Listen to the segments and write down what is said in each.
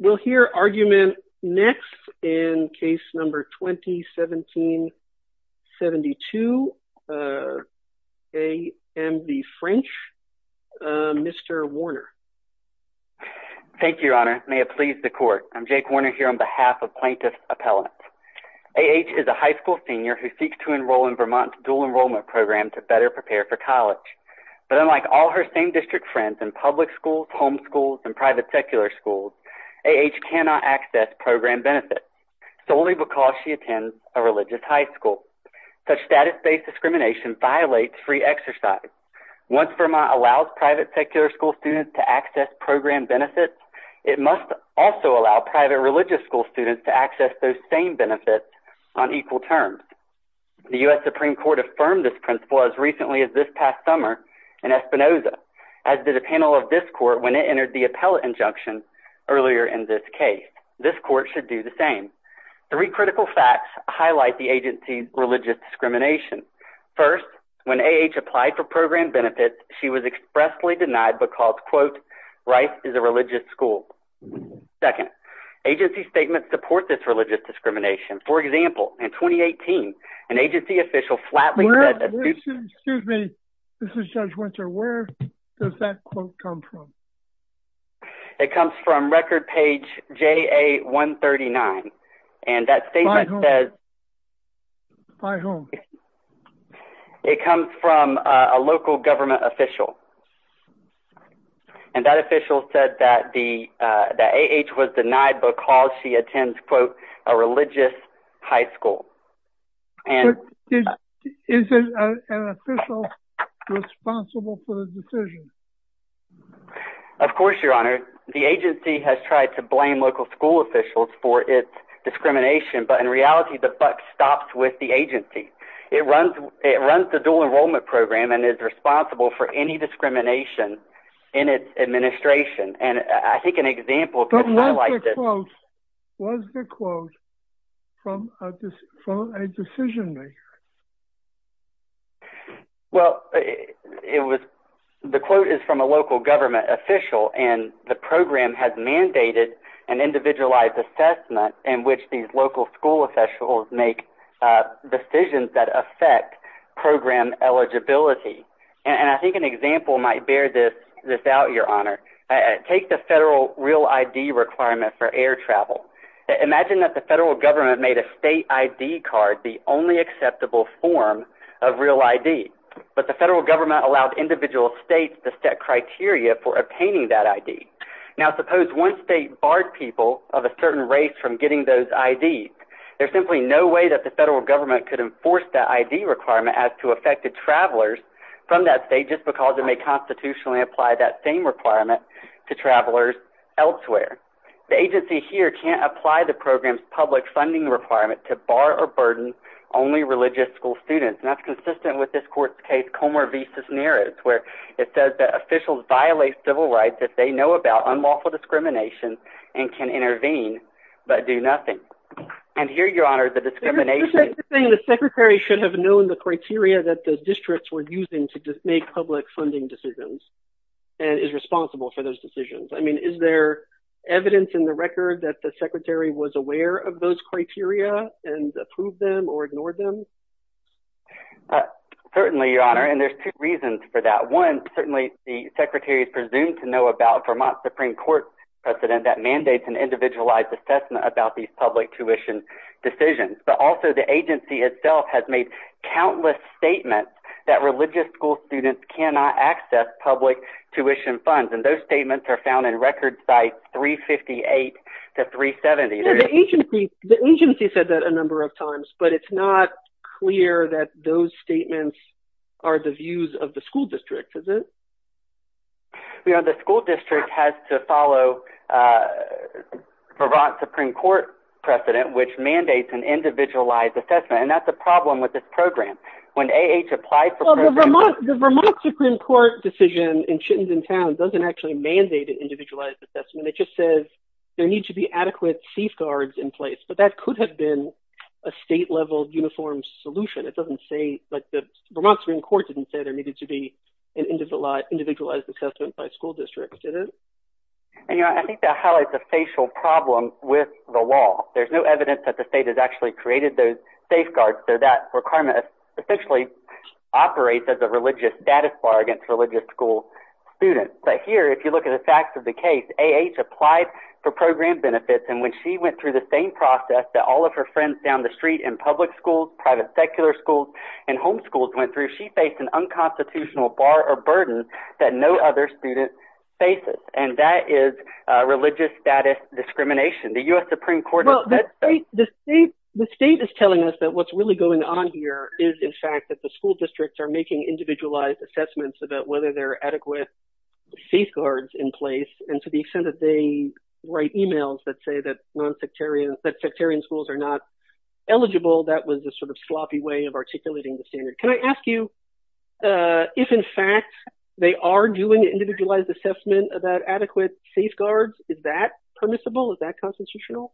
We'll hear argument next in case number 20-17-72. A.M. v. French. Mr. Warner. Thank you, Your Honor. May it please the Court. I'm Jake Warner here on behalf of Plaintiff's Appellant. A.H. is a high school senior who seeks to enroll in Vermont's dual enrollment program to better prepare for college. But unlike all her same district friends in public schools, home schools, and private secular schools, A.H. cannot access program benefits solely because she attends a religious high school. Such status-based discrimination violates free exercise. Once Vermont allows private secular school students to access program benefits, it must also allow private religious school students to access those same benefits on equal terms. The U.S. Supreme Court affirmed this principle as recently as this past summer in Espinoza, as did a panel of the appellate injunction earlier in this case. This court should do the same. Three critical facts highlight the agency's religious discrimination. First, when A.H. applied for program benefits, she was expressly denied because, quote, Rice is a religious school. Second, agency statements support this religious discrimination. For example, in 2018, an agency official flatly said that... Excuse me. This is Judge Winter. Where does that quote come from? It comes from record page JA139. And that statement says... By whom? It comes from a local government official. And that official said that A.H. was denied because she attends, quote, a religious high school. Is an official responsible for the decision? Of course, Your Honor. The agency has tried to blame local school officials for its discrimination, but in reality, the buck stops with the agency. It runs the dual enrollment program and is responsible for any discrimination in its administration. And I think an example... But what's the quote? What's the quote from a decision maker? Well, it was... The quote is from a local government official, and the program has mandated an individualized assessment in which these local school officials make decisions that affect program eligibility. And I think an example might bear this out, Your Honor. Take the federal real ID requirement for air travel. Imagine that the federal government made a state ID card the only acceptable form of real ID. But the federal government allowed individual states to set criteria for obtaining that ID. Now, suppose one state barred people of a certain race from getting those IDs. There's simply no way that the federal government could enforce the ID requirement as to affected travelers from that state just because it may constitutionally apply that same requirement to travelers elsewhere. The agency here can't apply the program's public funding requirement to bar or burden only religious school students. And that's consistent with this court's case, Comer v. Cisneros, where it says that officials violate civil rights if they know about unlawful discrimination and can intervene but do nothing. And here, Your Honor, the discrimination... The secretary should have known the criteria that the districts were using to make public funding decisions and is responsible for those decisions. I mean, is there evidence in the record that the secretary was aware of those criteria and approved them or ignored them? Certainly, Your Honor, and there's two reasons for that. One, certainly the secretary is presumed to know about Vermont Supreme Court precedent that mandates an individualized assessment about these public tuition decisions. But also, the agency itself has made countless statements that religious school students cannot access public tuition funds, and those statements are found in record sites 358 to 370. Yeah, the agency said that a number of times, but it's not clear that those statements are the views of the school district, is it? Your Honor, the school district has to follow Vermont Supreme Court precedent, which mandates an individualized assessment, and that's a problem with this program. When A.H. applied for programs... Well, the Vermont Supreme Court decision in Chittenden Town doesn't actually mandate an individualized assessment. It just says there need to be adequate safeguards in place, but that could have been a state-level uniform solution. It doesn't say, like, the Vermont Supreme Court didn't say there needed to be an individualized assessment by school districts, did it? And, Your Honor, I think that highlights a facial problem with the law. There's no evidence that the state has actually created those requirements, essentially operates as a religious status bar against religious school students. But here, if you look at the facts of the case, A.H. applied for program benefits, and when she went through the same process that all of her friends down the street in public schools, private secular schools, and homeschools went through, she faced an unconstitutional bar or burden that no other student faces, and that is religious status discrimination. The U.S. Supreme Court... Well, the state is telling us that what's really going on here is, in fact, that the school districts are making individualized assessments about whether there are adequate safeguards in place, and to the extent that they write emails that say that nonsectarian... that sectarian schools are not eligible, that was the sort of sloppy way of articulating the standard. Can I ask you if, in fact, they are doing individualized assessment about adequate safeguards, is that permissible? Is that constitutional?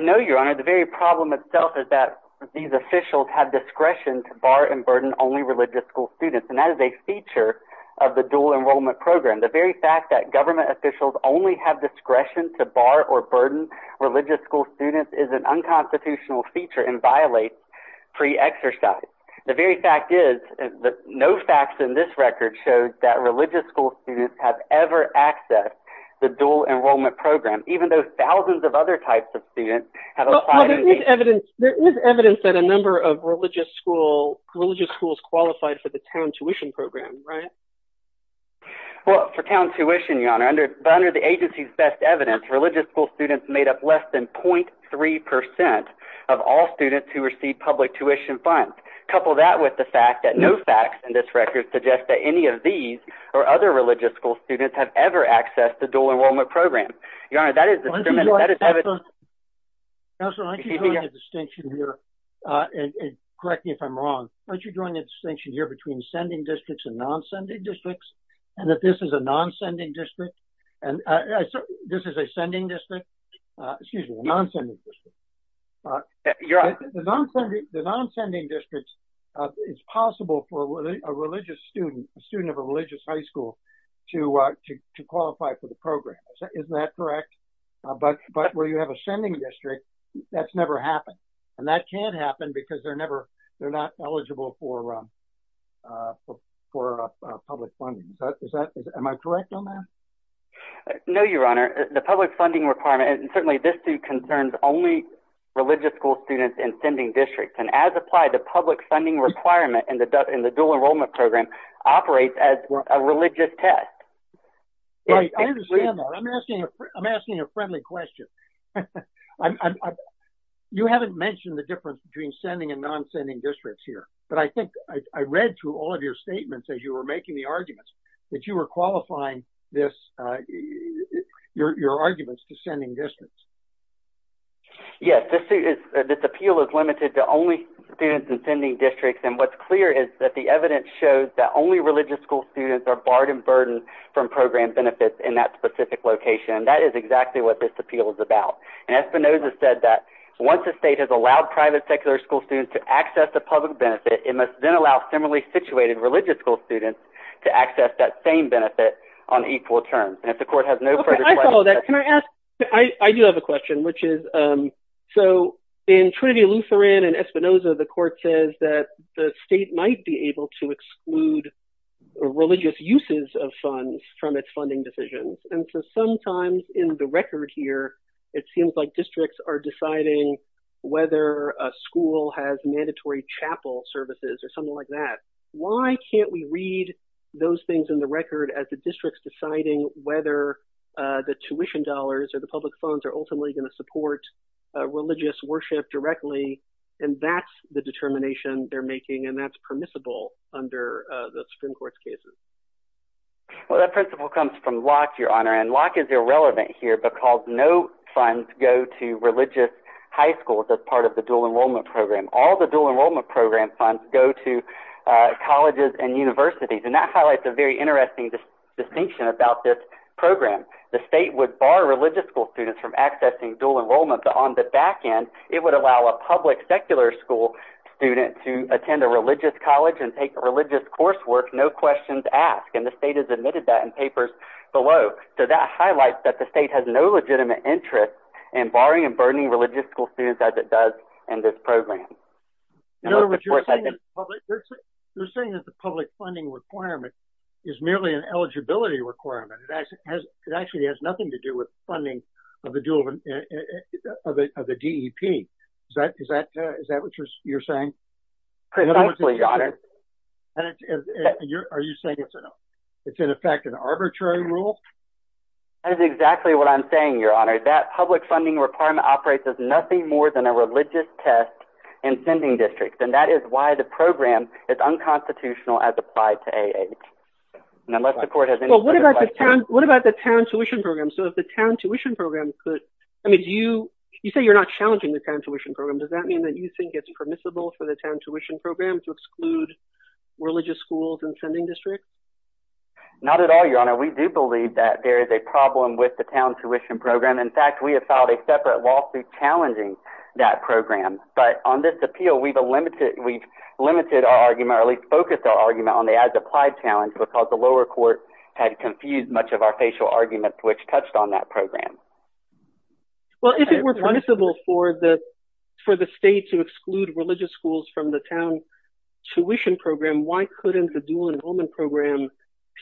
No, Your Honor. The very problem itself is that these officials have discretion to bar and burden only religious school students, and that is a feature of the dual enrollment program. The very fact that government officials only have discretion to bar or burden religious school students is an unconstitutional feature and violates free exercise. The very fact is that no facts in this record showed that religious school students have ever accessed the dual enrollment program, even though thousands of other types of students have applied... There is evidence that a number of religious schools qualified for the town tuition program, right? Well, for town tuition, Your Honor, but under the agency's best evidence, religious school students made up less than 0.3 percent of all students who receive public tuition funds. Couple that with the fact that no facts in this record suggest that any of these or other religious school students have ever accessed the dual enrollment program. Your Honor, that is a... Counselor, why don't you draw a distinction here, and correct me if I'm wrong, why don't you draw a distinction here between sending districts and non-sending districts, and that this is a non-sending district, and this is a sending district, excuse me, a non-sending district. The non-sending districts, it's possible for a religious student, a student of a religious high school, to qualify for the program. Isn't that correct? But where you have a sending district, that's never happened, and that can't happen because they're never... they're not eligible for public funding. Am I correct on that? No, Your Honor. The public funding requirement, and certainly this too concerns only religious school students in sending districts, and as applied, the public funding requirement in the dual enrollment program operates as a religious test. I understand that. I'm asking a friendly question. You haven't mentioned the difference between sending and non-sending districts here, but I think I read through all of your statements as you were making the arguments that you were qualifying this, your arguments to sending districts. Yes, this appeal is limited to only students in sending districts, and what's clear is that the evidence shows that only religious school students are barred and burdened from program benefits in that specific location, and that is exactly what this appeal is about, and Espinoza said that once the state has allowed private secular school students to access the public benefit, it must then allow similarly situated religious school students to access that same benefit on equal terms, and if the court has no further questions... Okay, I follow that. Can I ask... I do have a question, which is, so in Trinity Lutheran and religious uses of funds from its funding decisions, and so sometimes in the record here, it seems like districts are deciding whether a school has mandatory chapel services or something like that. Why can't we read those things in the record as the district's deciding whether the tuition dollars or the public funds are ultimately going to support religious worship directly, and that's the determination they're making, and that's permissible under the Supreme Court's cases. Well, that principle comes from Locke, Your Honor, and Locke is irrelevant here because no funds go to religious high schools as part of the dual enrollment program. All the dual enrollment program funds go to colleges and universities, and that highlights a very interesting distinction about this program. The state would bar religious school students from accessing dual enrollment, but on the back end, it would allow a public secular school student to ask, and the state has admitted that in papers below, so that highlights that the state has no legitimate interest in barring and burdening religious school students as it does in this program. You're saying that the public funding requirement is merely an eligibility requirement. It actually has nothing to do with funding of the DEP. Is that what you're saying? Precisely, Your Honor. Are you saying it's in effect an arbitrary rule? That is exactly what I'm saying, Your Honor. That public funding requirement operates as nothing more than a religious test in sending districts, and that is why the program is unconstitutional as applied to A.H. What about the town tuition program? So if the town tuition program could, I mean, you say you're not challenging the town tuition program. Does that mean that you think it's admissible for the town tuition program to exclude religious schools in sending districts? Not at all, Your Honor. We do believe that there is a problem with the town tuition program. In fact, we have filed a separate lawsuit challenging that program, but on this appeal, we've limited our argument, or at least focused our argument on the as-applied challenge because the lower court had confused much of our facial arguments which touched on that program. Well, if it were permissible for the state to exclude religious schools from the town tuition program, why couldn't the dual enrollment program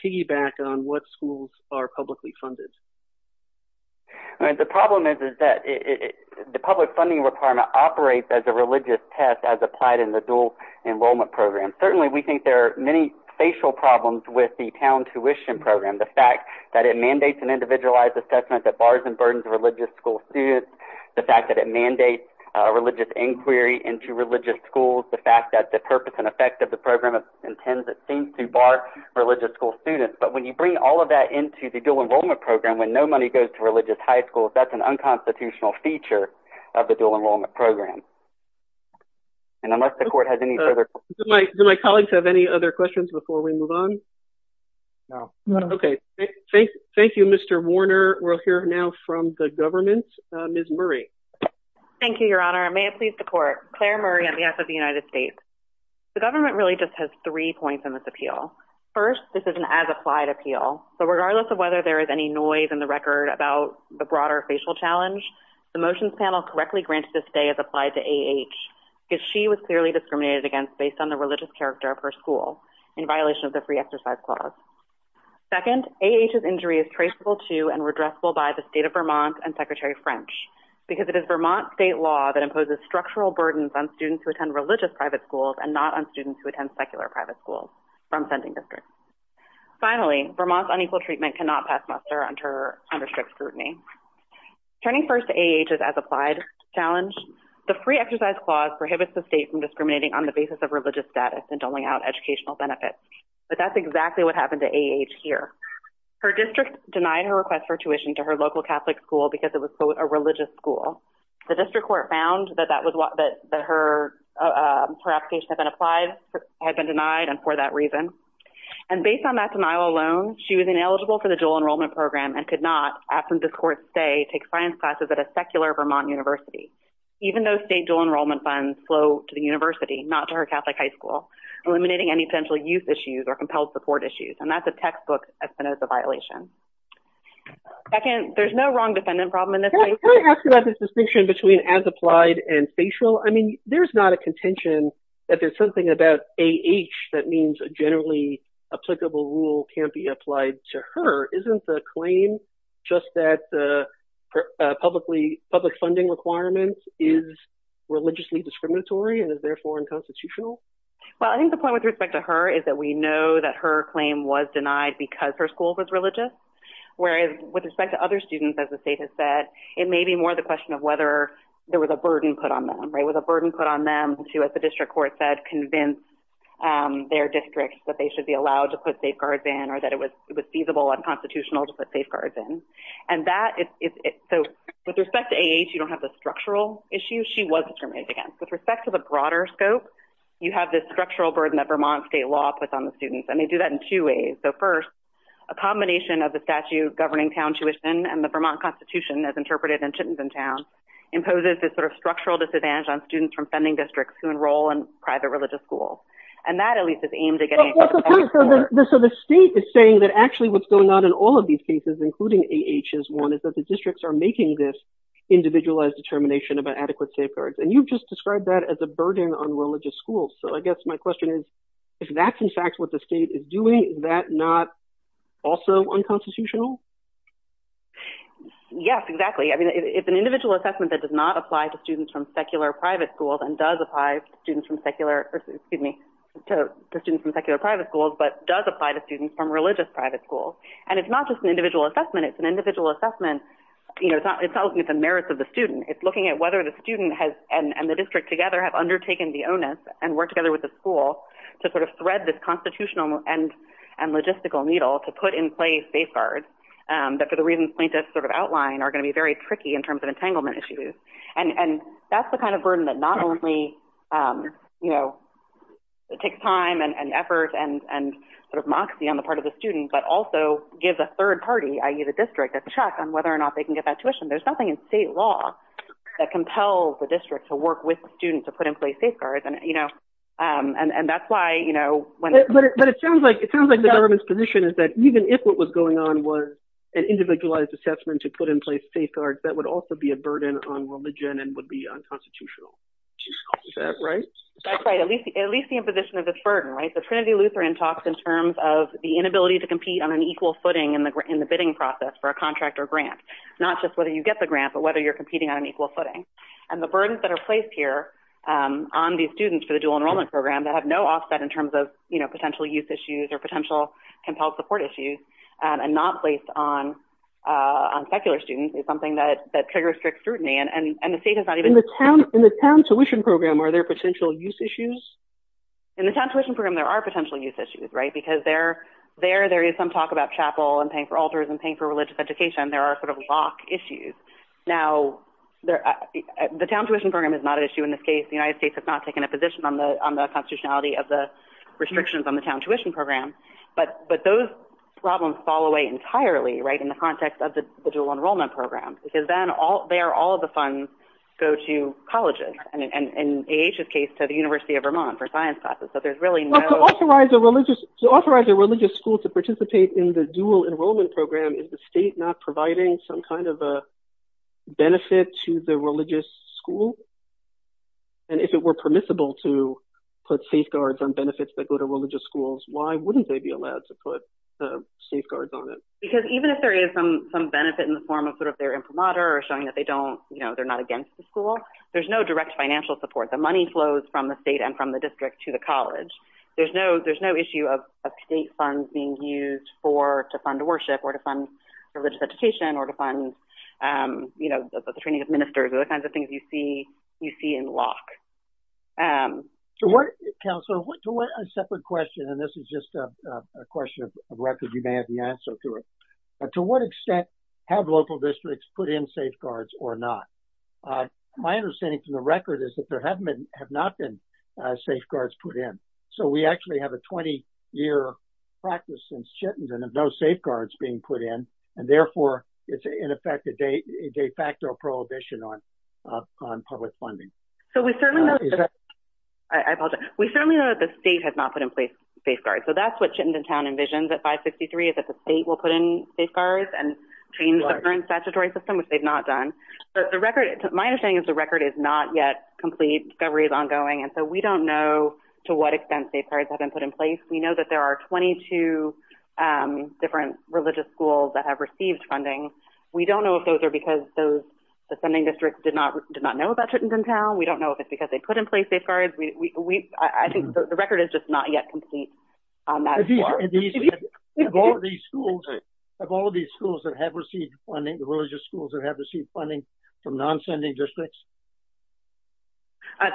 piggyback on what schools are publicly funded? The problem is that the public funding requirement operates as a religious test as applied in the dual enrollment program. Certainly, we think there are many facial problems with the town tuition program. The fact that it mandates an individualized assessment that bars and burdens religious school students, the fact that it mandates a religious inquiry into religious schools, the fact that the purpose and effect of the program intends it seems to bar religious school students, but when you bring all of that into the dual enrollment program when no money goes to religious high schools, that's an unconstitutional feature of the dual enrollment program. And unless the court has any further... Do my colleagues have any other questions before we move on? No. Okay. Thank you, Mr. Warner. We'll hear now from the government. Ms. Murray. Thank you, Your Honor. May it please the court. Claire Murray on behalf of the United States. The government really just has three points in this appeal. First, this is an as-applied appeal. So regardless of whether there is any noise in the record about the broader facial challenge, the motions panel correctly granted this day as applied to A.H. because she was clearly discriminated against based on the religious character of her school in violation of the free exercise clause. Second, A.H.'s injury is traceable to and redressable by the state of Vermont and Secretary French because it is Vermont state law that imposes structural burdens on students who attend religious private schools and not on students who attend secular private schools from sending districts. Finally, Vermont's unequal treatment cannot pass muster under strict scrutiny. Turning first to A.H.'s as-applied challenge, the free exercise clause prohibits the state from discriminating on the basis of religious status and doling out educational benefits. But that's exactly what happened to A.H. here. Her district denied her request for tuition to her local Catholic school because it was, quote, a religious school. The district court found that her application had been denied and for that reason. And based on that denial alone, she was ineligible for the dual enrollment program and could not, after this court's say, take science classes at a secular Vermont university. Even though state dual enrollment funds flow to the Catholic high school, eliminating any potential youth issues or compelled support issues. And that's a textbook Espinoza violation. There's no wrong defendant problem in this case. Can I ask about this distinction between as-applied and spatial? I mean, there's not a contention that there's something about A.H. that means a generally applicable rule can't be applied to her. Isn't the claim just that the public funding requirement is religiously discriminatory and is therefore unconstitutional? Well, I think the point with respect to her is that we know that her claim was denied because her school was religious. Whereas, with respect to other students, as the state has said, it may be more the question of whether there was a burden put on them, right? Was a burden put on them to, as the district court said, convince their districts that they should be allowed to put safeguards in or that it was feasible and constitutional to put safeguards in. And that is, so with respect to A.H., you don't have the structural issue she was discriminated against. With respect to the broader scope, you have this structural burden that Vermont state law puts on the students. And they do that in two ways. So first, a combination of the statute governing town tuition and the Vermont Constitution, as interpreted in Chittenden Town, imposes this sort of structural disadvantage on students from funding districts who enroll in private religious schools. And that, at least, is aimed at getting... So the state is saying that actually what's going on in all of these cases, including A.H.'s one, is that the individualized determination about adequate safeguards. And you've just described that as a burden on religious schools. So I guess my question is, if that's in fact what the state is doing, is that not also unconstitutional? Yes, exactly. I mean, it's an individual assessment that does not apply to students from secular private schools and does apply to students from secular, excuse me, to students from secular private schools, but does apply to assessment. It's an individual assessment. You know, it's not looking at the merits of the student. It's looking at whether the student has, and the district together, have undertaken the onus and worked together with the school to sort of thread this constitutional and logistical needle to put in place safeguards that, for the reasons plaintiffs sort of outline, are going to be very tricky in terms of entanglement issues. And that's the kind of burden that not only, you know, it takes time and effort and sort of moxie on the district to check on whether or not they can get that tuition. There's nothing in state law that compels the district to work with students to put in place safeguards, and, you know, and that's why, you know, when it sounds like it sounds like the government's position is that even if what was going on was an individualized assessment to put in place safeguards, that would also be a burden on religion and would be unconstitutional. Is that right? At least the imposition of this burden, right? The Trinity Lutheran talks in terms of the inability to compete on an equal footing in the bidding process for a contract or grant. Not just whether you get the grant, but whether you're competing on an equal footing. And the burdens that are placed here on these students for the dual enrollment program that have no offset in terms of, you know, potential youth issues or potential compelled support issues, and not placed on secular students, is something that triggers strict scrutiny. And the state has not even... In the town tuition program, are there potential youth issues? In the town tuition program, there are potential youth issues, right? Because there is some talk about chapel, and paying for altars, and paying for religious education. There are sort of lock issues. Now, the town tuition program is not an issue in this case. The United States has not taken a position on the constitutionality of the restrictions on the town tuition program. But those problems fall away entirely, right, in the context of the dual enrollment program. Because then, there, all of the funds go to colleges. And in A.H.'s case, to the University of Vermont for science classes. So there's really no... To authorize a religious school to participate in the dual enrollment program, is the state not providing some kind of a benefit to the religious school? And if it were permissible to put safeguards on benefits that go to religious schools, why wouldn't they be allowed to put safeguards on it? Because even if there is some benefit in the form of sort of their imprimatur, or showing that they don't, you know, they're not against the school, there's no direct financial support. The money flows from the state and from the state funds being used to fund worship, or to fund religious education, or to fund, you know, the training of ministers, the kinds of things you see in lock. Councilor, to a separate question, and this is just a question of record, you may have the answer to it. To what extent have local districts put in safeguards or not? My understanding from the record is that there have not been safeguards put in. So we actually have a 20-year practice since Chittenden of no safeguards being put in. And therefore, it's in effect a de facto prohibition on public funding. So we certainly know, I apologize, we certainly know that the state has not put in place safeguards. So that's what Chittenden Town envisions at 563 is that the state will put in safeguards and change the current statutory system, which they've not done. The record, my understanding is the record is not yet complete, discovery is ongoing. And so we don't know to what extent safeguards have been put in place. We know that there are 22 different religious schools that have received funding. We don't know if those are because the sending districts did not know about Chittenden Town. We don't know if it's because they put in place safeguards. I think the record is just not yet complete on that. Have all of these schools that have received funding, the religious schools that have received funding from non-sending districts?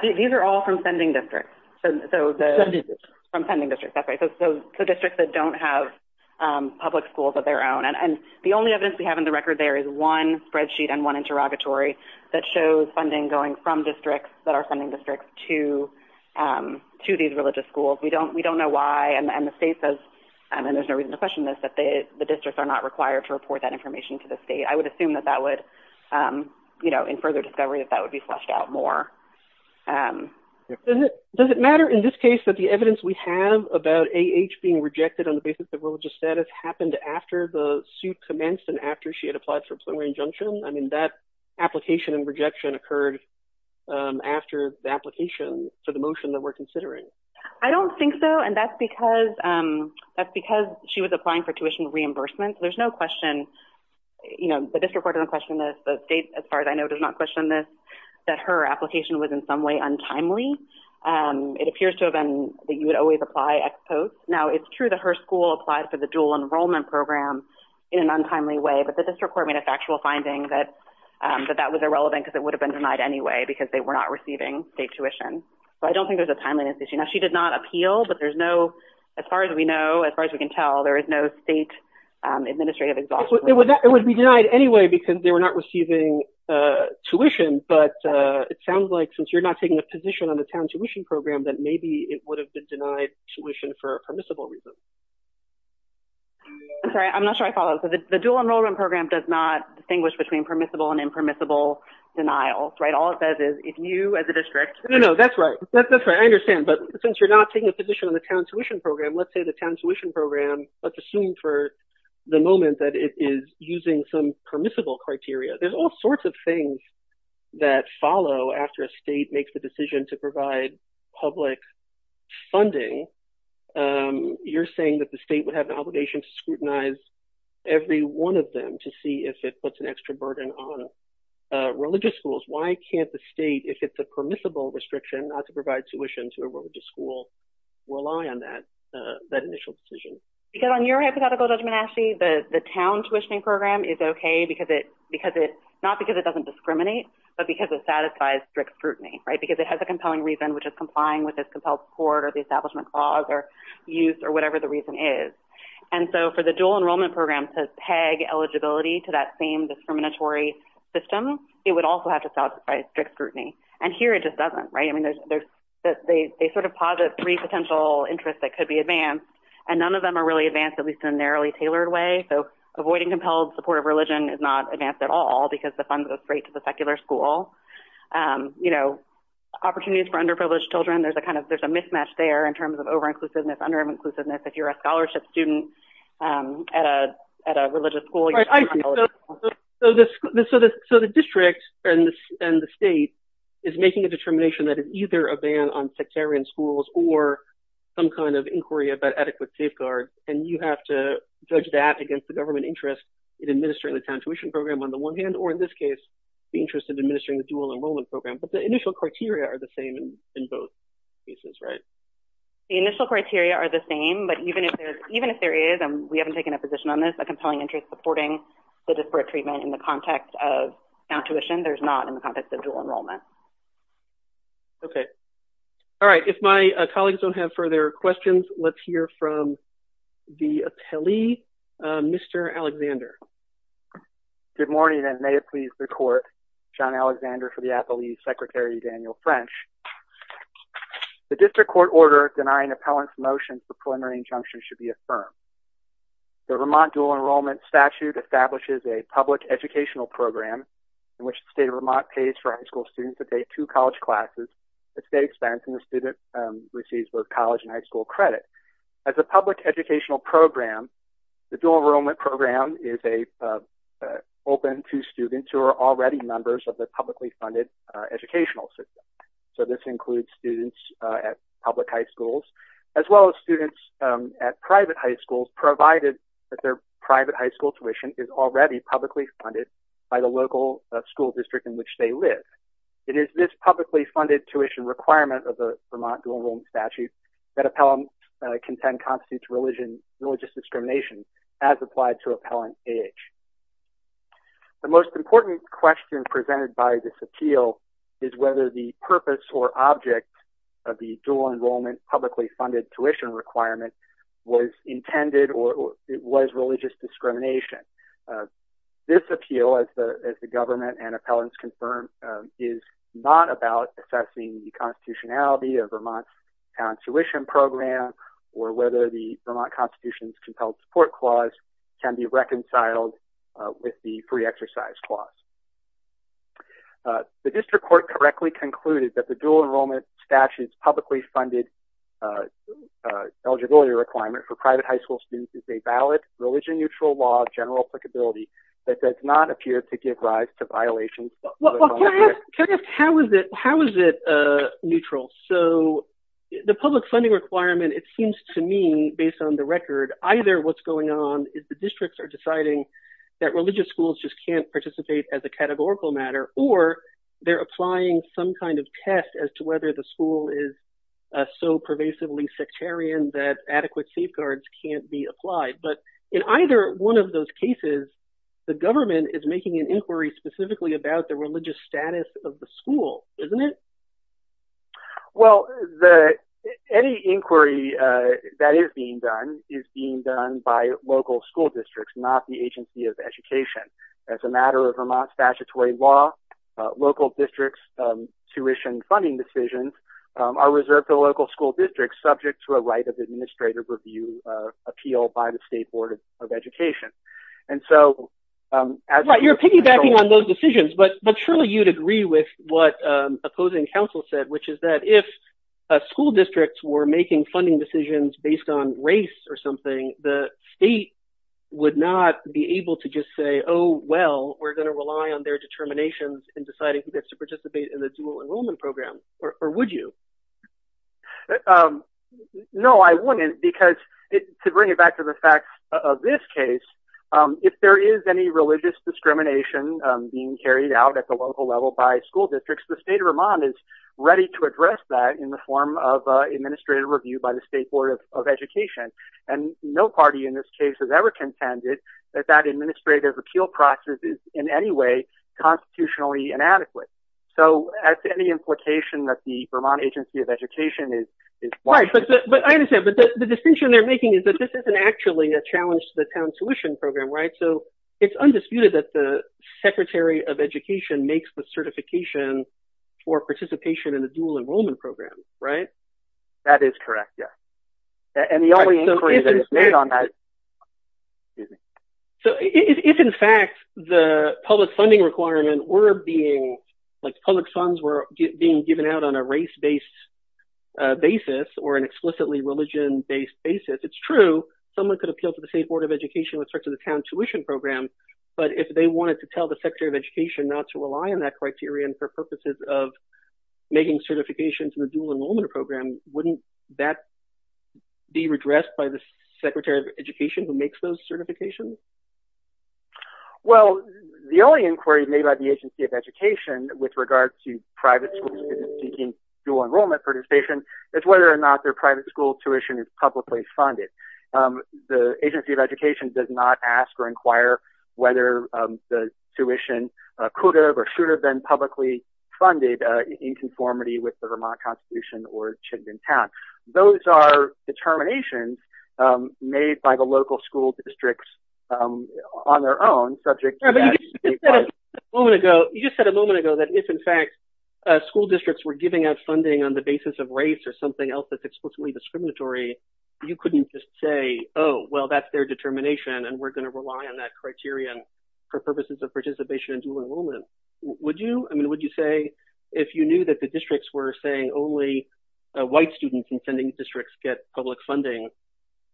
These are all from sending districts. From sending districts, that's right. So districts that don't have public schools of their own. And the only evidence we have in the record there is one spreadsheet and one interrogatory that shows funding going from districts that are sending districts to these religious schools. We don't know why. And the state says, and there's no reason to question this, that the districts are not required to report that information to the state. I would assume that that would, you know, in further discovery, that that would be the case. Does it matter in this case that the evidence we have about A.H. being rejected on the basis of religious status happened after the suit commenced and after she had applied for a plenary injunction? I mean, that application and rejection occurred after the application for the motion that we're considering. I don't think so. And that's because she was applying for tuition reimbursement. There's no question, you know, the district court doesn't question this. The state, as far as I know, does not question this, that her application was in some way untimely. It appears to have been that you would always apply ex post. Now, it's true that her school applied for the dual enrollment program in an untimely way, but the district court made a factual finding that that was irrelevant because it would have been denied anyway because they were not receiving state tuition. So I don't think there's a timeliness issue. Now, she did not appeal, but there's no, as far as we know, as far as we can tell, there is no state administrative exhaustion. It would be denied anyway because they were not receiving tuition, but it sounds like since you're not taking a position on the town tuition program, that maybe it would have been denied tuition for a permissible reason. I'm sorry, I'm not sure I follow. So the dual enrollment program does not distinguish between permissible and impermissible denials, right? All it says is if you as a district... No, no, no, that's right. That's right. I understand. But since you're not taking a position on the town tuition program, let's say the town tuition program, let's assume for the moment that it is using some permissible criteria. There's all sorts of things that follow after a state makes the decision to provide public funding. You're saying that the state would have an obligation to scrutinize every one of them to see if it puts an extra burden on religious schools. Why can't the state, if it's a permissible restriction not to provide tuition to a religious school, rely on that initial decision? Because on your hypothetical, Judge Manasseh, the town tuition program is okay, not because it doesn't discriminate, but because it satisfies strict scrutiny, right? Because it has a compelling reason, which is complying with its compelled support or the establishment clause or use or whatever the reason is. And so for the dual enrollment program to peg eligibility to that same discriminatory system, it would also have to satisfy strict scrutiny. And here it just doesn't, right? I mean, they sort of posit three potential interests that could be advanced, and none of them are really advanced, at least in a narrowly tailored way. So avoiding compelled support of religion is not advanced at all, because the funds go straight to the secular school. You know, opportunities for underprivileged children, there's a kind of, there's a mismatch there in terms of over-inclusiveness, under-inclusiveness. If you're a scholarship student, at a religious school, you're not eligible. So the district and the state is making a determination that is either a ban on sectarian schools or some kind of inquiry about adequate safeguards, and you have to judge that against the government interest in administering the town tuition program on the one hand, or in this case, the interest in administering the dual enrollment program. But the initial criteria are the same in both cases, right? The initial criteria are the same, but even if there is, and we haven't taken a position on this, a compelling interest supporting the disparate treatment in the context of town tuition, there's not in the context of dual enrollment. Okay. All right. If my colleagues don't have further questions, let's hear from the appellee, Mr. Alexander. Good morning, and may it please the court, John Alexander for the appellee, Secretary Daniel French. The district court order denying appellant's motion for preliminary injunction should be affirmed. The Vermont dual enrollment statute establishes a public educational program in which the state of Vermont pays for high school students to take two college classes at state expense, and the student receives both college and high school credit. As a public educational program, the dual enrollment program is open to students who are already members of the publicly funded educational system. So this includes students at public high schools, as well as students at private high schools, provided that their private high school tuition is already publicly funded by the local school district in which they live. It is this publicly funded tuition requirement of the Vermont dual enrollment statute that appellants contend constitutes religious discrimination as applied to appellant age. The most important question presented by this appeal is whether the purpose or object of the dual enrollment publicly funded tuition requirement was intended or it was religious discrimination. This appeal, as the government and appellants confirm, is not about assessing the constitutionality of Vermont's town tuition program or whether the Vermont Constitution's compelled support clause can be reconciled with the free exercise clause. The district court correctly concluded that the dual enrollment statute's publicly funded eligibility requirement for private high school students is a valid religion neutral law of general applicability that does not appear to give rise to Well, can I ask how is it neutral? So the public funding requirement, it seems to me, based on the record, either what's going on is the districts are deciding that religious schools just can't participate as a categorical matter or they're applying some kind of test as to whether the school is so pervasively sectarian that adequate safeguards can't be applied. But in either one of those cases the government is making an inquiry specifically about the religious status of the school, isn't it? Well, any inquiry that is being done is being done by local school districts, not the Agency of Education. As a matter of Vermont's statutory law, local districts' tuition funding decisions are reserved to local school districts subject to a right of administrative review appeal by the Right, you're piggybacking on those decisions, but surely you'd agree with what opposing counsel said, which is that if a school district were making funding decisions based on race or something, the state would not be able to just say, oh well, we're going to rely on their determinations in deciding who gets to participate in the dual enrollment program, or would you? No, I wouldn't because, to bring it back to the fact of this case, if there is any religious discrimination being carried out at the local level by school districts, the state of Vermont is ready to address that in the form of administrative review by the State Board of Education, and no party in this case has ever contended that that administrative appeal process is in any way constitutionally inadequate. So as to any implication that the Vermont Agency of Education is Right, but I understand, but the distinction they're making is that this isn't actually a challenge to the town's tuition program, right? So it's undisputed that the Secretary of Education makes the certification for participation in the dual enrollment program, right? That is correct, yes. And the only inquiry that is made on that So if, in fact, the public funding requirement were being, like public funds were being given out on a race-based basis or an explicitly religion-based basis, it's true someone could appeal to the State Board of Education with respect to the town tuition program, but if they wanted to tell the Secretary of Education not to rely on that criterion for purposes of making certifications in the dual enrollment program, wouldn't that be redressed by the Secretary of Education who makes those certifications? Well, the only inquiry made by the Agency of Education with regard to private schools seeking dual enrollment participation is whether or not their private school tuition is publicly funded. The Agency of Education does not ask or inquire whether the tuition could have or should have been publicly funded in conformity with the Vermont Constitution or should have been passed. Those are determinations made by the You just said a moment ago that if, in fact, school districts were giving out funding on the basis of race or something else that's explicitly discriminatory, you couldn't just say, oh, well, that's their determination and we're going to rely on that criterion for purposes of participation in dual enrollment. Would you? I mean, would you say if you knew that the districts were saying only white students in sending districts get public funding,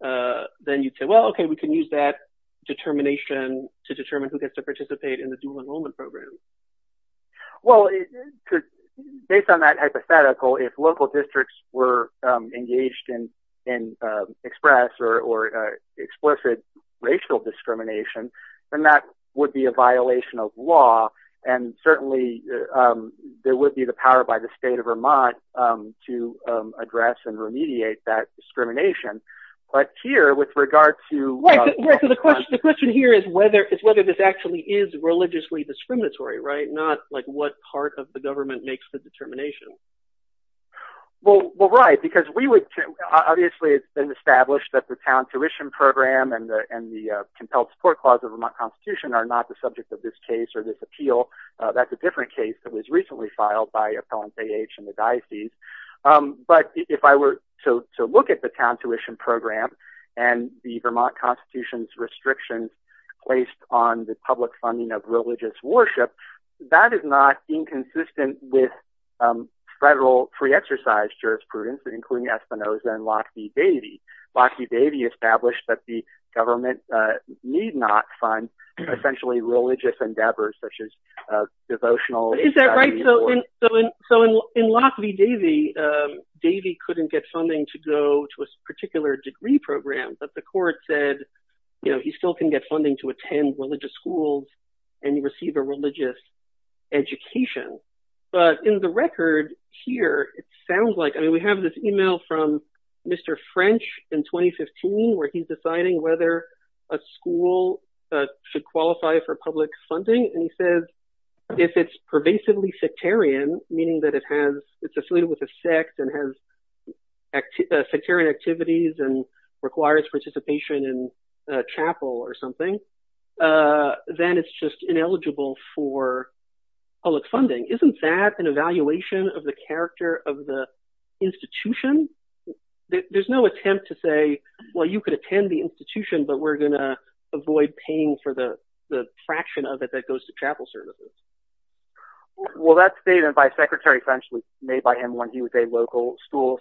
then you'd say, well, okay, we can use that determination to determine who gets to Well, based on that hypothetical, if local districts were engaged in express or explicit racial discrimination, then that would be a violation of law and certainly there would be the power by the state of Vermont to address and remediate that discrimination. But here, with regard to... Right, so the question here is whether this actually is religiously discriminatory, right? It's not, like, what part of the government makes the determination. Well, right, because we would, obviously, it's been established that the Town Tuition Program and the Compelled Support Clause of the Vermont Constitution are not the subject of this case or this appeal. That's a different case that was recently filed by Appellants A.H. and the Diocese, but if I were to look at the Town Tuition Program and the Vermont Constitution's restrictions placed on the public funding of religious worship, that is not inconsistent with federal free-exercise jurisprudence, including Espinoza and Lockheed Davy. Lockheed Davy established that the government need not fund essentially religious endeavors such as devotional... Is that right? So in Lockheed Davy, Davy couldn't get funding to go to a particular degree program, but the court said, you know, he still can get funding to attend religious schools and receive a religious education. But in the record here, it sounds like, I mean, we have this email from Mr. French in 2015 where he's deciding whether a school should qualify for public funding, and he says, if it's pervasively sectarian, meaning that it has, it's affiliated with a sect and has sectarian activities and requires participation in chapel or something, then it's just ineligible for public funding. Isn't that an evaluation of the character of the institution? There's no attempt to say, well, you could attend the institution, but we're going to avoid paying for the fraction of it that goes to chapel services. Well, that statement by Secretary French was made by him when he was a local school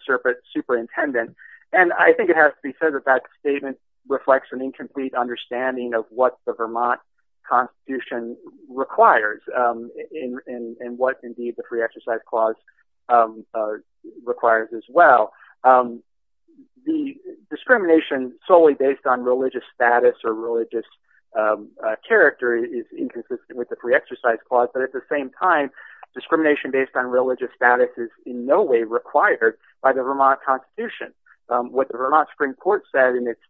superintendent, and I think it has to be said that that statement reflects an incomplete understanding of what the Vermont Constitution requires, and what indeed the Free Exercise Clause requires as well. The discrimination solely based on religious status or religious character is inconsistent with the Free Exercise Clause, but at the same time, discrimination based on religious status is in no way required by the Vermont Constitution. What the Vermont Supreme Court said in its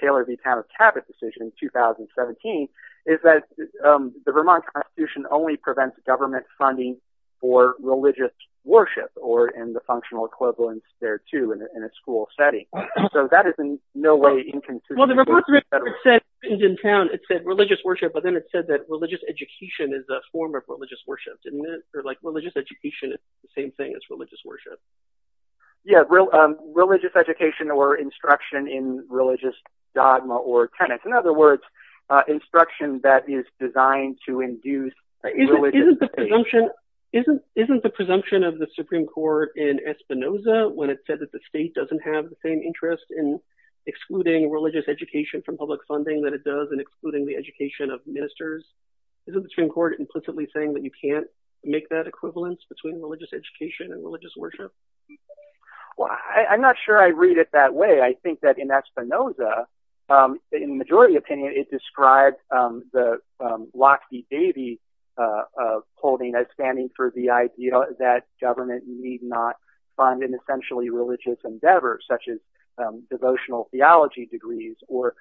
Taylor v. Town of Cabot decision in 2017 is that the Vermont Constitution only prevents government funding for religious worship, or in the functional equivalence there too, in a school setting. So that is in no way inconsistent. Well, the Vermont Supreme Court said in town, it said religious worship, but then it said that religious education is a form of religious worship, didn't it? Or like, religious education is the same thing as religious worship. Yeah, religious education or instruction in religious dogma or tenets. In other words, instruction that is designed to induce... Isn't the presumption of the Supreme Court in Espinoza, when it said that the state doesn't have the same interest in excluding religious education from public funding that it does in excluding the education of ministers, isn't the Supreme Court implicitly saying that you can't make that equivalence between religious education and religious worship? Well, I'm not sure I read it that way. I think that in Espinoza, in the majority opinion, it described the Lockheed Davies holding as standing for the idea that government need not fund an essentially religious endeavor, such as devotional theology degrees or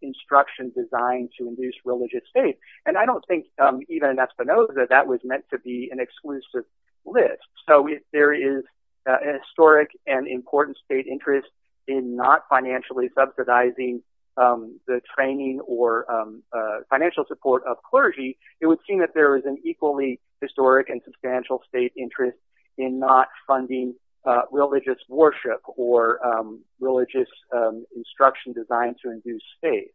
instruction designed to induce religious faith, and I don't think even in Espinoza that was meant to be an exclusive list. So if there is a historic and important state interest in not financially subsidizing the training or financial support of clergy, it would seem that there is an equally historic and substantial state interest in not funding religious worship or religious instruction designed to induce faith.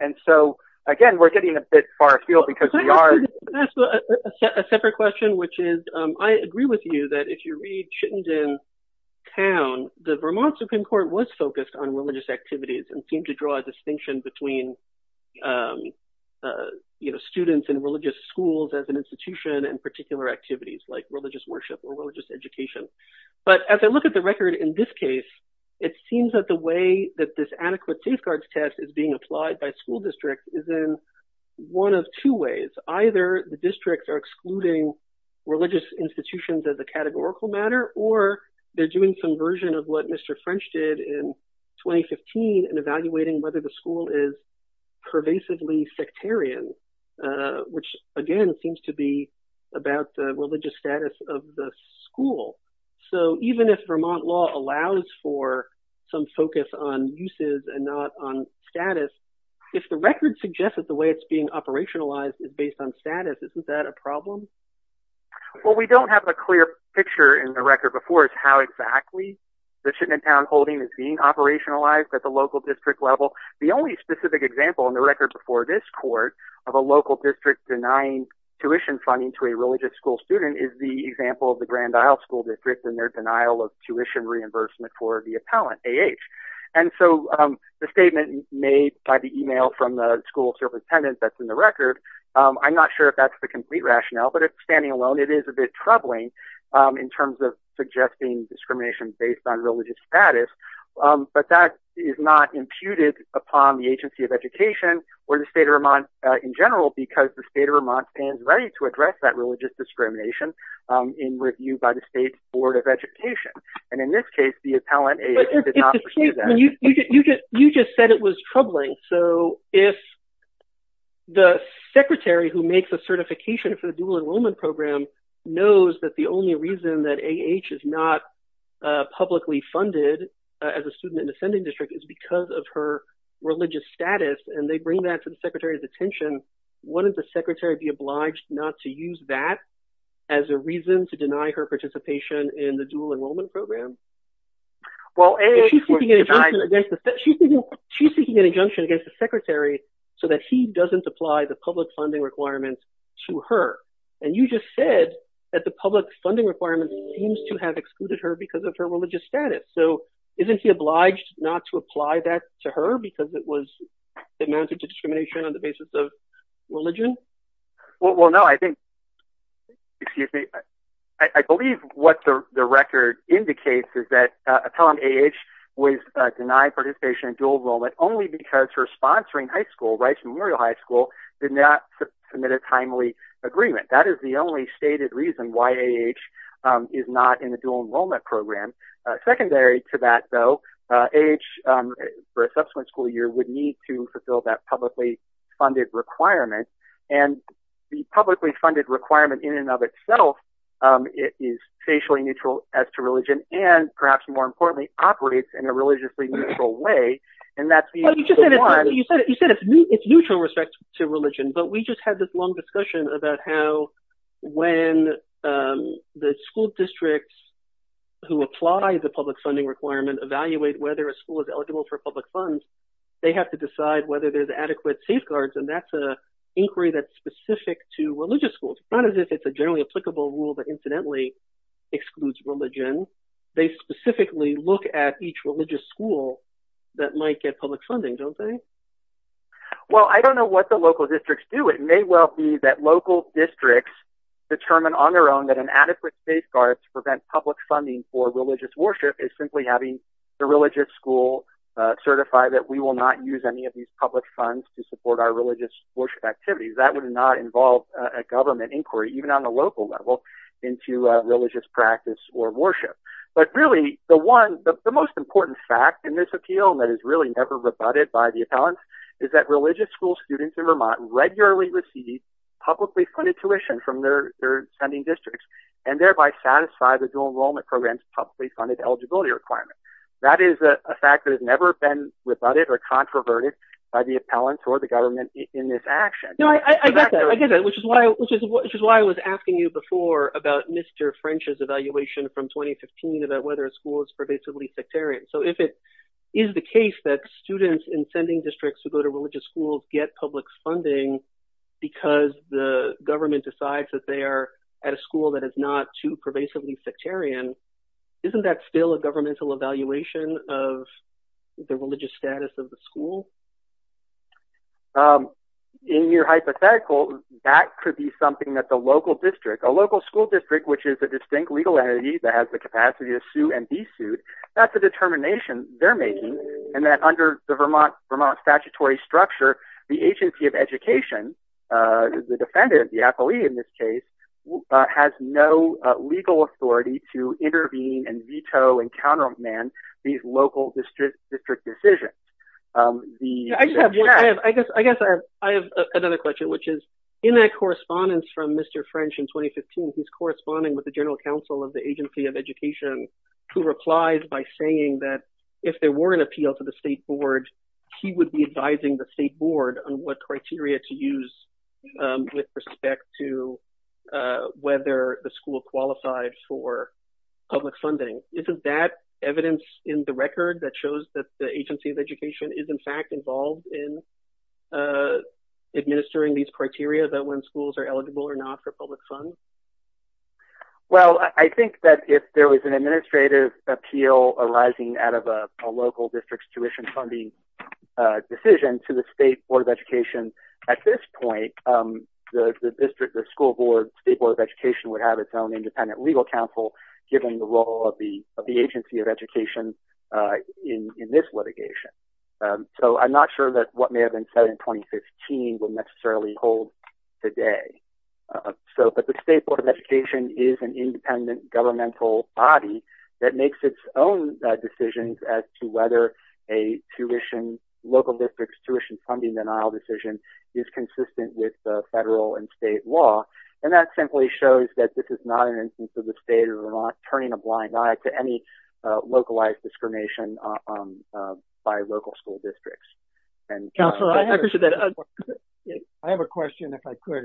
And so, again, we're getting a bit far afield because we are— Can I ask a separate question, which is, I agree with you that if you read Chittenden Town, the Vermont Supreme Court was focused on religious activities and seemed to draw a distinction between, you know, students in religious schools as an institution and particular activities, like religious worship or religious education. But as I look at the record in this case, it seems that the way that this adequate safeguards test is being applied by school districts is in one of two ways. Either the districts are excluding religious institutions as a categorical matter, or they're doing some version of what Mr. French did in 2015 and evaluating whether the school is pervasively sectarian, which again seems to be about the religious status of the school. So even if Vermont law allows for some focus on uses and not on status, if the record suggests that the way it's being operationalized is based on status, isn't that a problem? Well, we don't have a clear picture in the record before as to how exactly the Chittenden Town holding is being operationalized at the local district level. The only specific example in the record before this court of a local district denying tuition funding to a religious school student is the example of the Grand Isle School District and their denial of tuition reimbursement for the age. And so the statement made by the email from the school superintendent that's in the record, I'm not sure if that's the complete rationale, but if standing alone it is a bit troubling in terms of suggesting discrimination based on religious status, but that is not imputed upon the Agency of Education or the state of Vermont in general because the state of Vermont stands ready to address that religious discrimination in review by the state's Board of Education. And in this case, the appellant, A.H., did not pursue that. You just said it was troubling, so if the secretary who makes a certification for the dual enrollment program knows that the only reason that A.H. is not publicly funded as a student in the Ascending District is because of her religious status and they bring that to the secretary's attention, wouldn't the secretary be obliged not to use that as a reason to deny her participation in the dual enrollment program? Well, A.H. was denied... She's seeking an injunction against the secretary so that he doesn't apply the public funding requirements to her. And you just said that the public funding requirements seems to have excluded her because of her religious status. So isn't he obliged not to apply that to her because it was, it amounted to discrimination on the basis of religion? Well, no, I think... Excuse me. I believe what the record indicates is that appellant A.H. was denied participation in dual enrollment only because her sponsoring high school, Rice Memorial High School, did not submit a timely agreement. That is the only stated reason why A.H. is not in the dual enrollment program. Secondary to that, though, A.H., for a subsequent school year, would need to fulfill that publicly funded requirement. And the publicly funded requirement in and of itself is facially neutral as to religion and, perhaps more importantly, operates in a religiously neutral way. And that's the... You said it's neutral respect to religion, but we just had this long discussion about how when the school districts who apply the public funding requirement evaluate whether a school is public funds, they have to decide whether there's adequate safeguards, and that's an inquiry that's specific to religious schools. Not as if it's a generally applicable rule that, incidentally, excludes religion. They specifically look at each religious school that might get public funding, don't they? Well, I don't know what the local districts do. It may well be that local districts determine on their own that an adequate safeguard to prevent public funding for religious worship is simply having the religious school certify that we will not use any of these public funds to support our religious worship activities. That would not involve a government inquiry, even on the local level, into religious practice or worship. But really, the one... the most important fact in this appeal, and that is really never rebutted by the appellants, is that religious school students in Vermont regularly receive publicly funded tuition from their sending districts, and thereby satisfy the dual enrollment program's publicly funded eligibility requirement. That is a fact that has never been rebutted or controverted by the appellants or the government in this action. No, I get that. I get that, which is why I was asking you before about Mr. French's evaluation from 2015 about whether a school is pervasively sectarian. So if it is the case that students in sending districts who go to religious schools get public funding because the government decides that they are at a school that is not too pervasively sectarian, isn't that still a governmental evaluation of the religious status of the school? In your hypothetical, that could be something that the local district, a local school district which is a distinct legal entity that has the capacity to sue and be sued, that's a determination they're making, and that under the Vermont statutory structure, the Agency of Education, the defendant, the appellee in this case, has no legal authority to intervene and veto and countermand these local district decisions. I guess I have another question, which is in that correspondence from Mr. French in 2015, he's corresponding with the General Counsel of the Agency of Education, who replies by saying that if there were an administrative appeal arising out of a local district's tuition funding decision, that the agency would be advising the state board on what criteria to use with respect to whether the school qualifies for public funding. Isn't that evidence in the record that shows that the Agency of Education is in fact involved in administering these criteria about when schools are eligible or not for public funds? Well, I think that if there was an administrative appeal arising out of a local district's tuition funding decision to the State Board of Education, at this point, the district, the school board, State Board of Education would have its own independent legal counsel, given the role of the Agency of Education in this litigation. So I'm not sure that what may have been in 2015 will necessarily hold today. So, but the State Board of Education is an independent governmental body that makes its own decisions as to whether a tuition, local district's tuition funding denial decision is consistent with the federal and state law, and that simply shows that this is not an instance of the state of Vermont turning a blind eye to any localized discrimination by local school districts. Counselor, I have a question, if I could.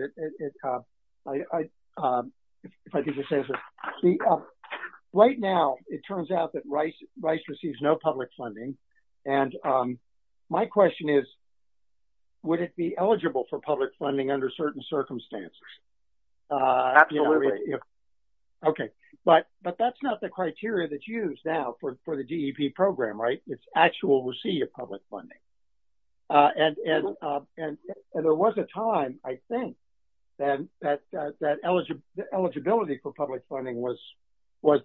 Right now, it turns out that Rice receives no public funding, and my question is, would it be eligible for public funding under certain circumstances? Absolutely. Okay, but that's not the criteria that's used now for the DEP program, right? It's actual receipt of public funding, and there was a time, I think, and that eligibility for public funding was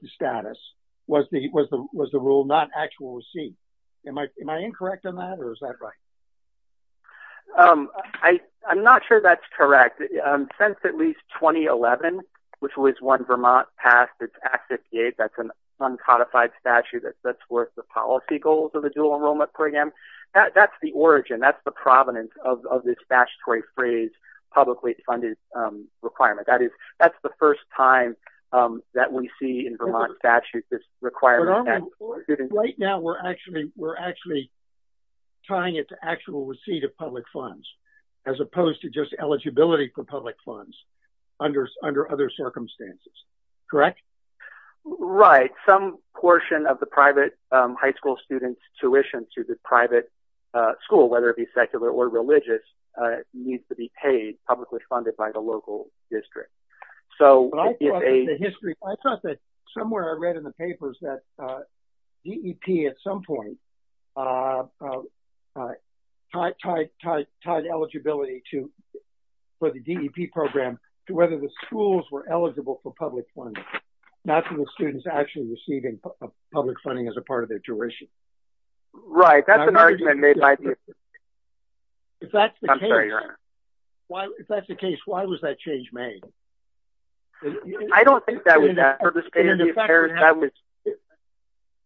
the status, was the rule not actual receipt. Am I incorrect on that, or is that right? I'm not sure that's correct. Since at least 2011, which was when Vermont passed its Act 58, that's an example of the policy goals of the dual enrollment program. That's the origin, that's the provenance of this statutory phrase, publicly funded requirement. That is, that's the first time that we see in Vermont statute this requirement. Right now, we're actually trying it to actual receipt of public funds, as opposed to just eligibility for public funds under other circumstances, correct? Right. Some portion of the private high school students' tuition to the private school, whether it be secular or religious, needs to be paid, publicly funded by the local district. So, I thought that somewhere I read in the papers that DEP at some point tied eligibility to, for the DEP program, to the schools were eligible for public funding, not to the students actually receiving public funding as a part of their tuition. Right, that's an argument made by DEP. If that's the case, why was that change made? I don't think that was the purpose of the change.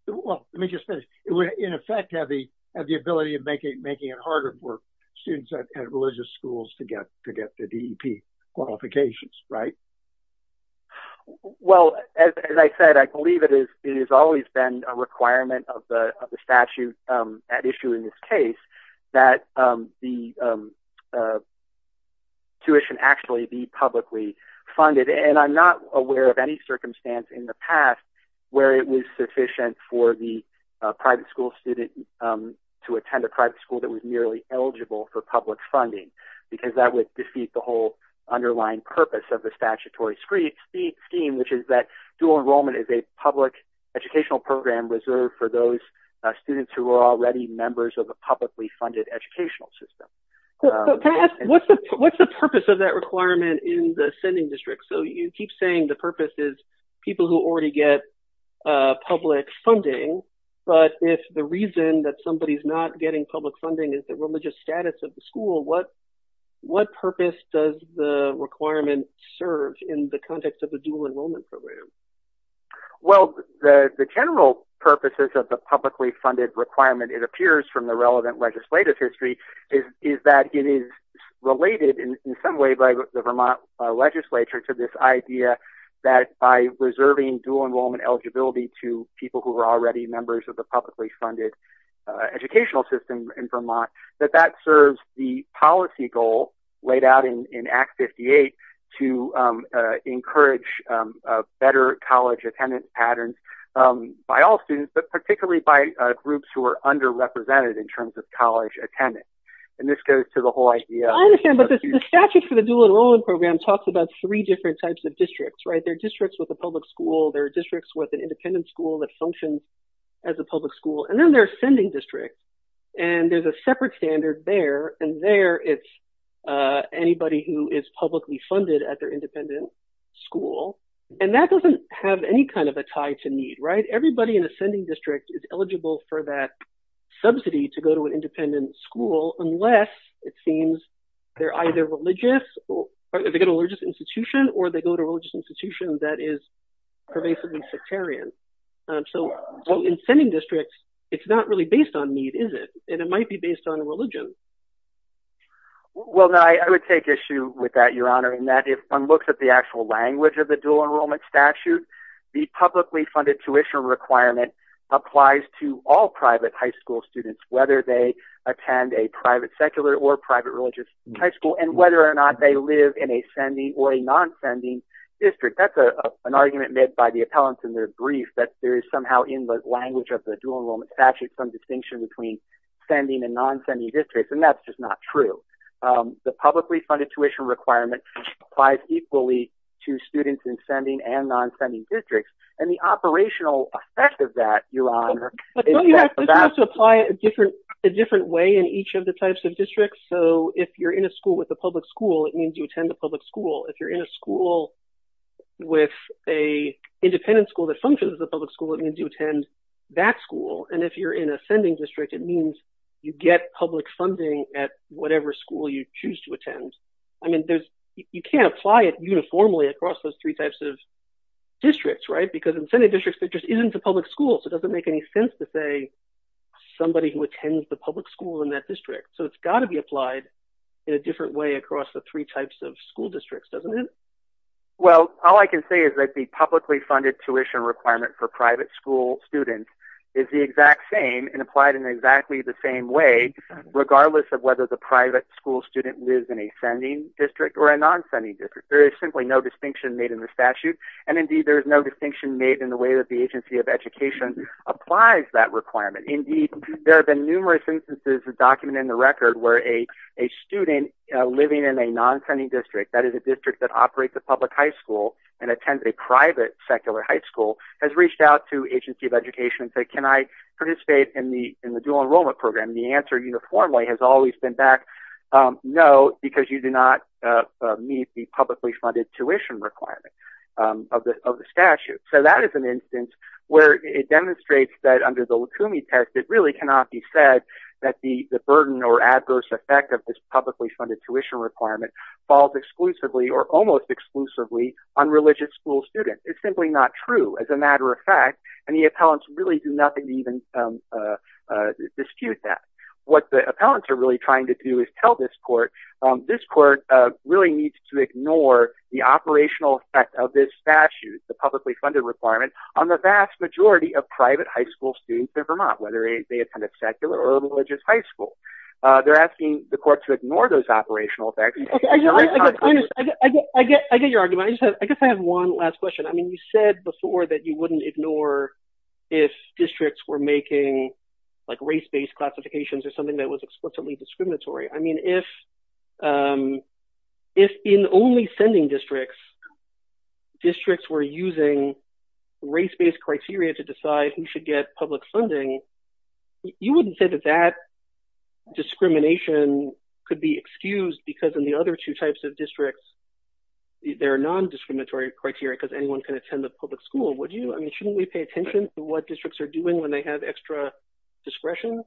Well, let me just finish. It would, in effect, have the ability of making it harder for students at religious schools to get the DEP qualifications, right? Well, as I said, I believe it is, it has always been a requirement of the statute at issue in this case that the tuition actually be publicly funded, and I'm not aware of any circumstance in the past where it was sufficient for the private school student to attend a private school that was merely eligible for public funding, because that would defeat the whole underlying purpose of the statutory scheme, which is that dual enrollment is a public educational program reserved for those students who are already members of a publicly funded educational system. What's the purpose of that requirement in the sending district? So, you keep saying the purpose is people who already get public funding, but if the reason that somebody's not getting public funding is the religious status of the school, what purpose does the requirement serve in the context of a dual enrollment program? Well, the general purposes of the publicly funded requirement, it appears from the relevant legislative history, is that it is related in some way by the Vermont legislature to this idea that by reserving dual enrollment eligibility to people who are already members of the publicly funded educational system in Vermont, that that serves the policy goal laid out in Act 58 to encourage better college attendance patterns by all students, but particularly by groups who are underrepresented in terms of college attendance, and this goes to the whole idea. I understand, but the statute for the dual enrollment program talks about three different types of districts, right? There are districts with a public school, there are districts that function as a public school, and then there are sending districts, and there's a separate standard there, and there it's anybody who is publicly funded at their independent school, and that doesn't have any kind of a tie to need, right? Everybody in a sending district is eligible for that subsidy to go to an independent school unless it seems they're either religious, or they go to a religious institution, or they go to a religious institution that is pervasively sectarian. So in sending districts, it's not really based on need, is it? And it might be based on religion. Well, I would take issue with that, Your Honor, in that if one looks at the actual language of the dual enrollment statute, the publicly funded tuition requirement applies to all private high school students, whether they attend a private secular or private religious high school, and whether or not they live in a sending or a non-sending district. That's an argument made by the appellants in their brief, that there is somehow in the language of the dual enrollment statute some distinction between sending and non-sending districts, and that's just not true. The publicly funded tuition requirement applies equally to students in sending and non-sending districts, and the operational effect of that, Your Honor, is that the vast... But don't you have to apply it a different way in each of the types of districts? So if you're in a school with a public school, that means you attend the public school. If you're in a school with a independent school that functions as a public school, it means you attend that school. And if you're in a sending district, it means you get public funding at whatever school you choose to attend. I mean, you can't apply it uniformly across those three types of districts, right? Because in sending districts, there just isn't a public school, so it doesn't make any sense to say somebody who attends the public school in that district. So it's got to be applied in a different way across the three types of school districts, doesn't it? Well, all I can say is that the publicly funded tuition requirement for private school students is the exact same and applied in exactly the same way, regardless of whether the private school student lives in a sending district or a non-sending district. There is simply no distinction made in the statute, and indeed there is no distinction made in the way that the Agency of Education applies that requirement. Indeed, there have been numerous instances documented in the non-sending district, that is a district that operates a public high school and attends a private secular high school, has reached out to Agency of Education and said, can I participate in the dual enrollment program? The answer uniformly has always been back, no, because you do not meet the publicly funded tuition requirement of the statute. So that is an instance where it demonstrates that under the Lukumi test, it really cannot be said that the falls exclusively or almost exclusively on religious school students. It's simply not true, as a matter of fact, and the appellants really do nothing to even dispute that. What the appellants are really trying to do is tell this court, this court really needs to ignore the operational effect of this statute, the publicly funded requirement, on the vast majority of private high school students in Vermont, whether they attend a secular or a religious high school. They're not going to do that. I get your argument. I guess I have one last question. I mean, you said before that you wouldn't ignore if districts were making like race-based classifications or something that was explicitly discriminatory. I mean, if in only sending districts, districts were using race-based criteria to decide who should get public funding, you wouldn't say that that discrimination could be other two types of districts, their non-discriminatory criteria, because anyone can attend the public school, would you? I mean, shouldn't we pay attention to what districts are doing when they have extra discretion?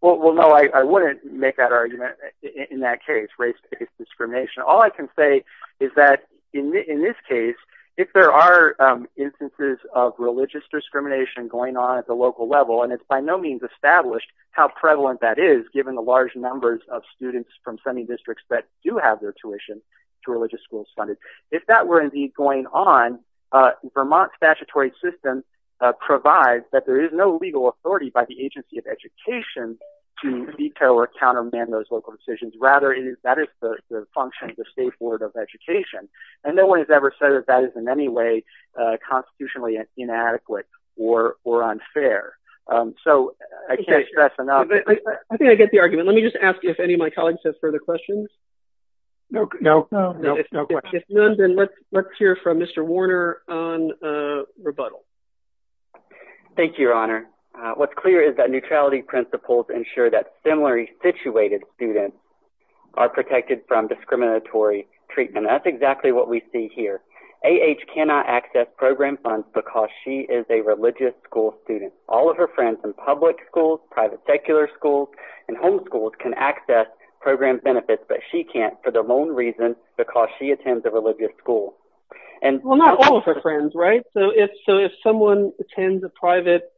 Well, no, I wouldn't make that argument in that case, race-based discrimination. All I can say is that in this case, if there are instances of religious discrimination going on at the local level, and it's by no means established how prevalent that is given the large numbers of students from semi districts that do have their tuition to religious schools funded, if that were indeed going on, Vermont statutory system provides that there is no legal authority by the Agency of Education to veto or countermand those local decisions. Rather, that is the function of the State Board of Education, and no one has ever said that that is in any way constitutionally inadequate or unfair. So I can't stress enough. I think I get the argument. Let me just ask if any of my questions. If none, then let's hear from Mr. Warner on rebuttal. Thank you, Your Honor. What's clear is that neutrality principles ensure that similarly situated students are protected from discriminatory treatment. That's exactly what we see here. A.H. cannot access program funds because she is a religious school student. All of her friends in public schools, private secular schools, and homeschools can access program benefits, but she can't for their own reasons because she attends a religious school. Well, not all of her friends, right? So if someone attends a private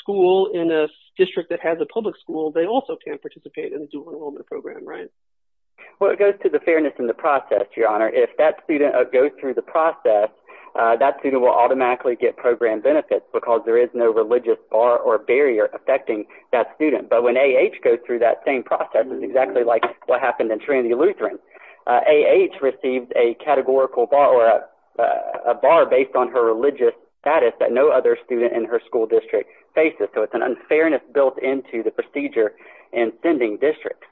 school in a district that has a public school, they also can participate in the dual enrollment program, right? Well, it goes to the fairness in the process, Your Honor. If that student goes through the process, that student will automatically get program benefits because there is no religious bar or barrier affecting that student. But when A.H. goes through that same process, it's exactly like what happened in Trinity Lutheran. A.H. received a categorical bar or a bar based on her religious status that no other student in her school district faces. So it's an unfairness built into the procedure in sending districts.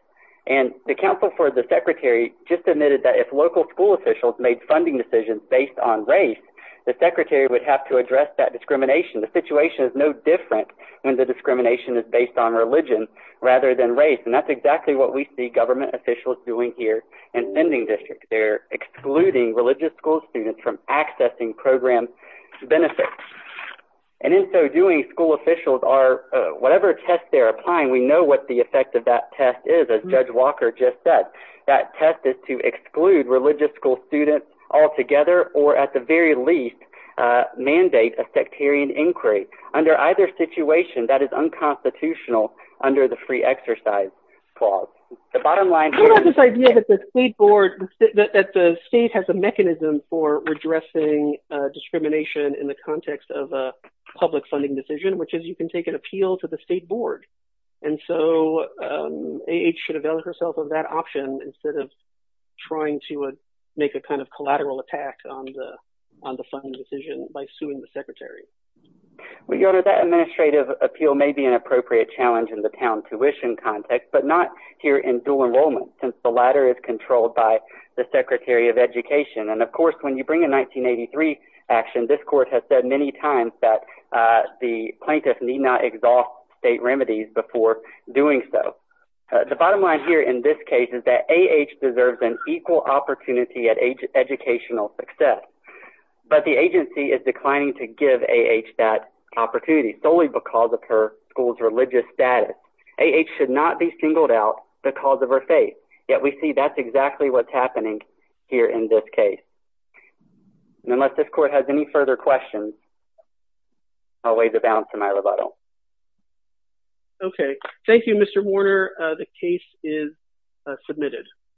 And the counsel for the secretary just admitted that if local school officials made funding decisions based on race, the secretary would have to address that discrimination. The situation is no different when the discrimination is based on religion rather than race. And that's exactly what we see government officials doing here in sending districts. They're excluding religious school students from accessing program benefits. And in so doing, school officials are, whatever test they're applying, we know what the effect of that test is. As Judge Walker just said, that or, at the very least, mandate a sectarian inquiry under either situation that is unconstitutional under the free exercise clause. The bottom line is... I love this idea that the state board, that the state has a mechanism for redressing discrimination in the context of a public funding decision, which is you can take an appeal to the state board. And so A.H. should avail herself of that option instead of trying to make a kind of collateral attack on the funding decision by suing the secretary. Well, your honor, that administrative appeal may be an appropriate challenge in the town tuition context, but not here in dual enrollment, since the latter is controlled by the Secretary of Education. And, of course, when you bring a 1983 action, this court has said many times that the plaintiffs need not exhaust state remedies before doing so. The case is that A.H. deserves an equal opportunity at educational success, but the agency is declining to give A.H. that opportunity, solely because of her school's religious status. A.H. should not be singled out because of her faith, yet we see that's exactly what's happening here in this case. Unless this court has any further questions, I'll waive the balance of my rebuttal. Okay. Thank you, Mr. Warner. The case is submitted.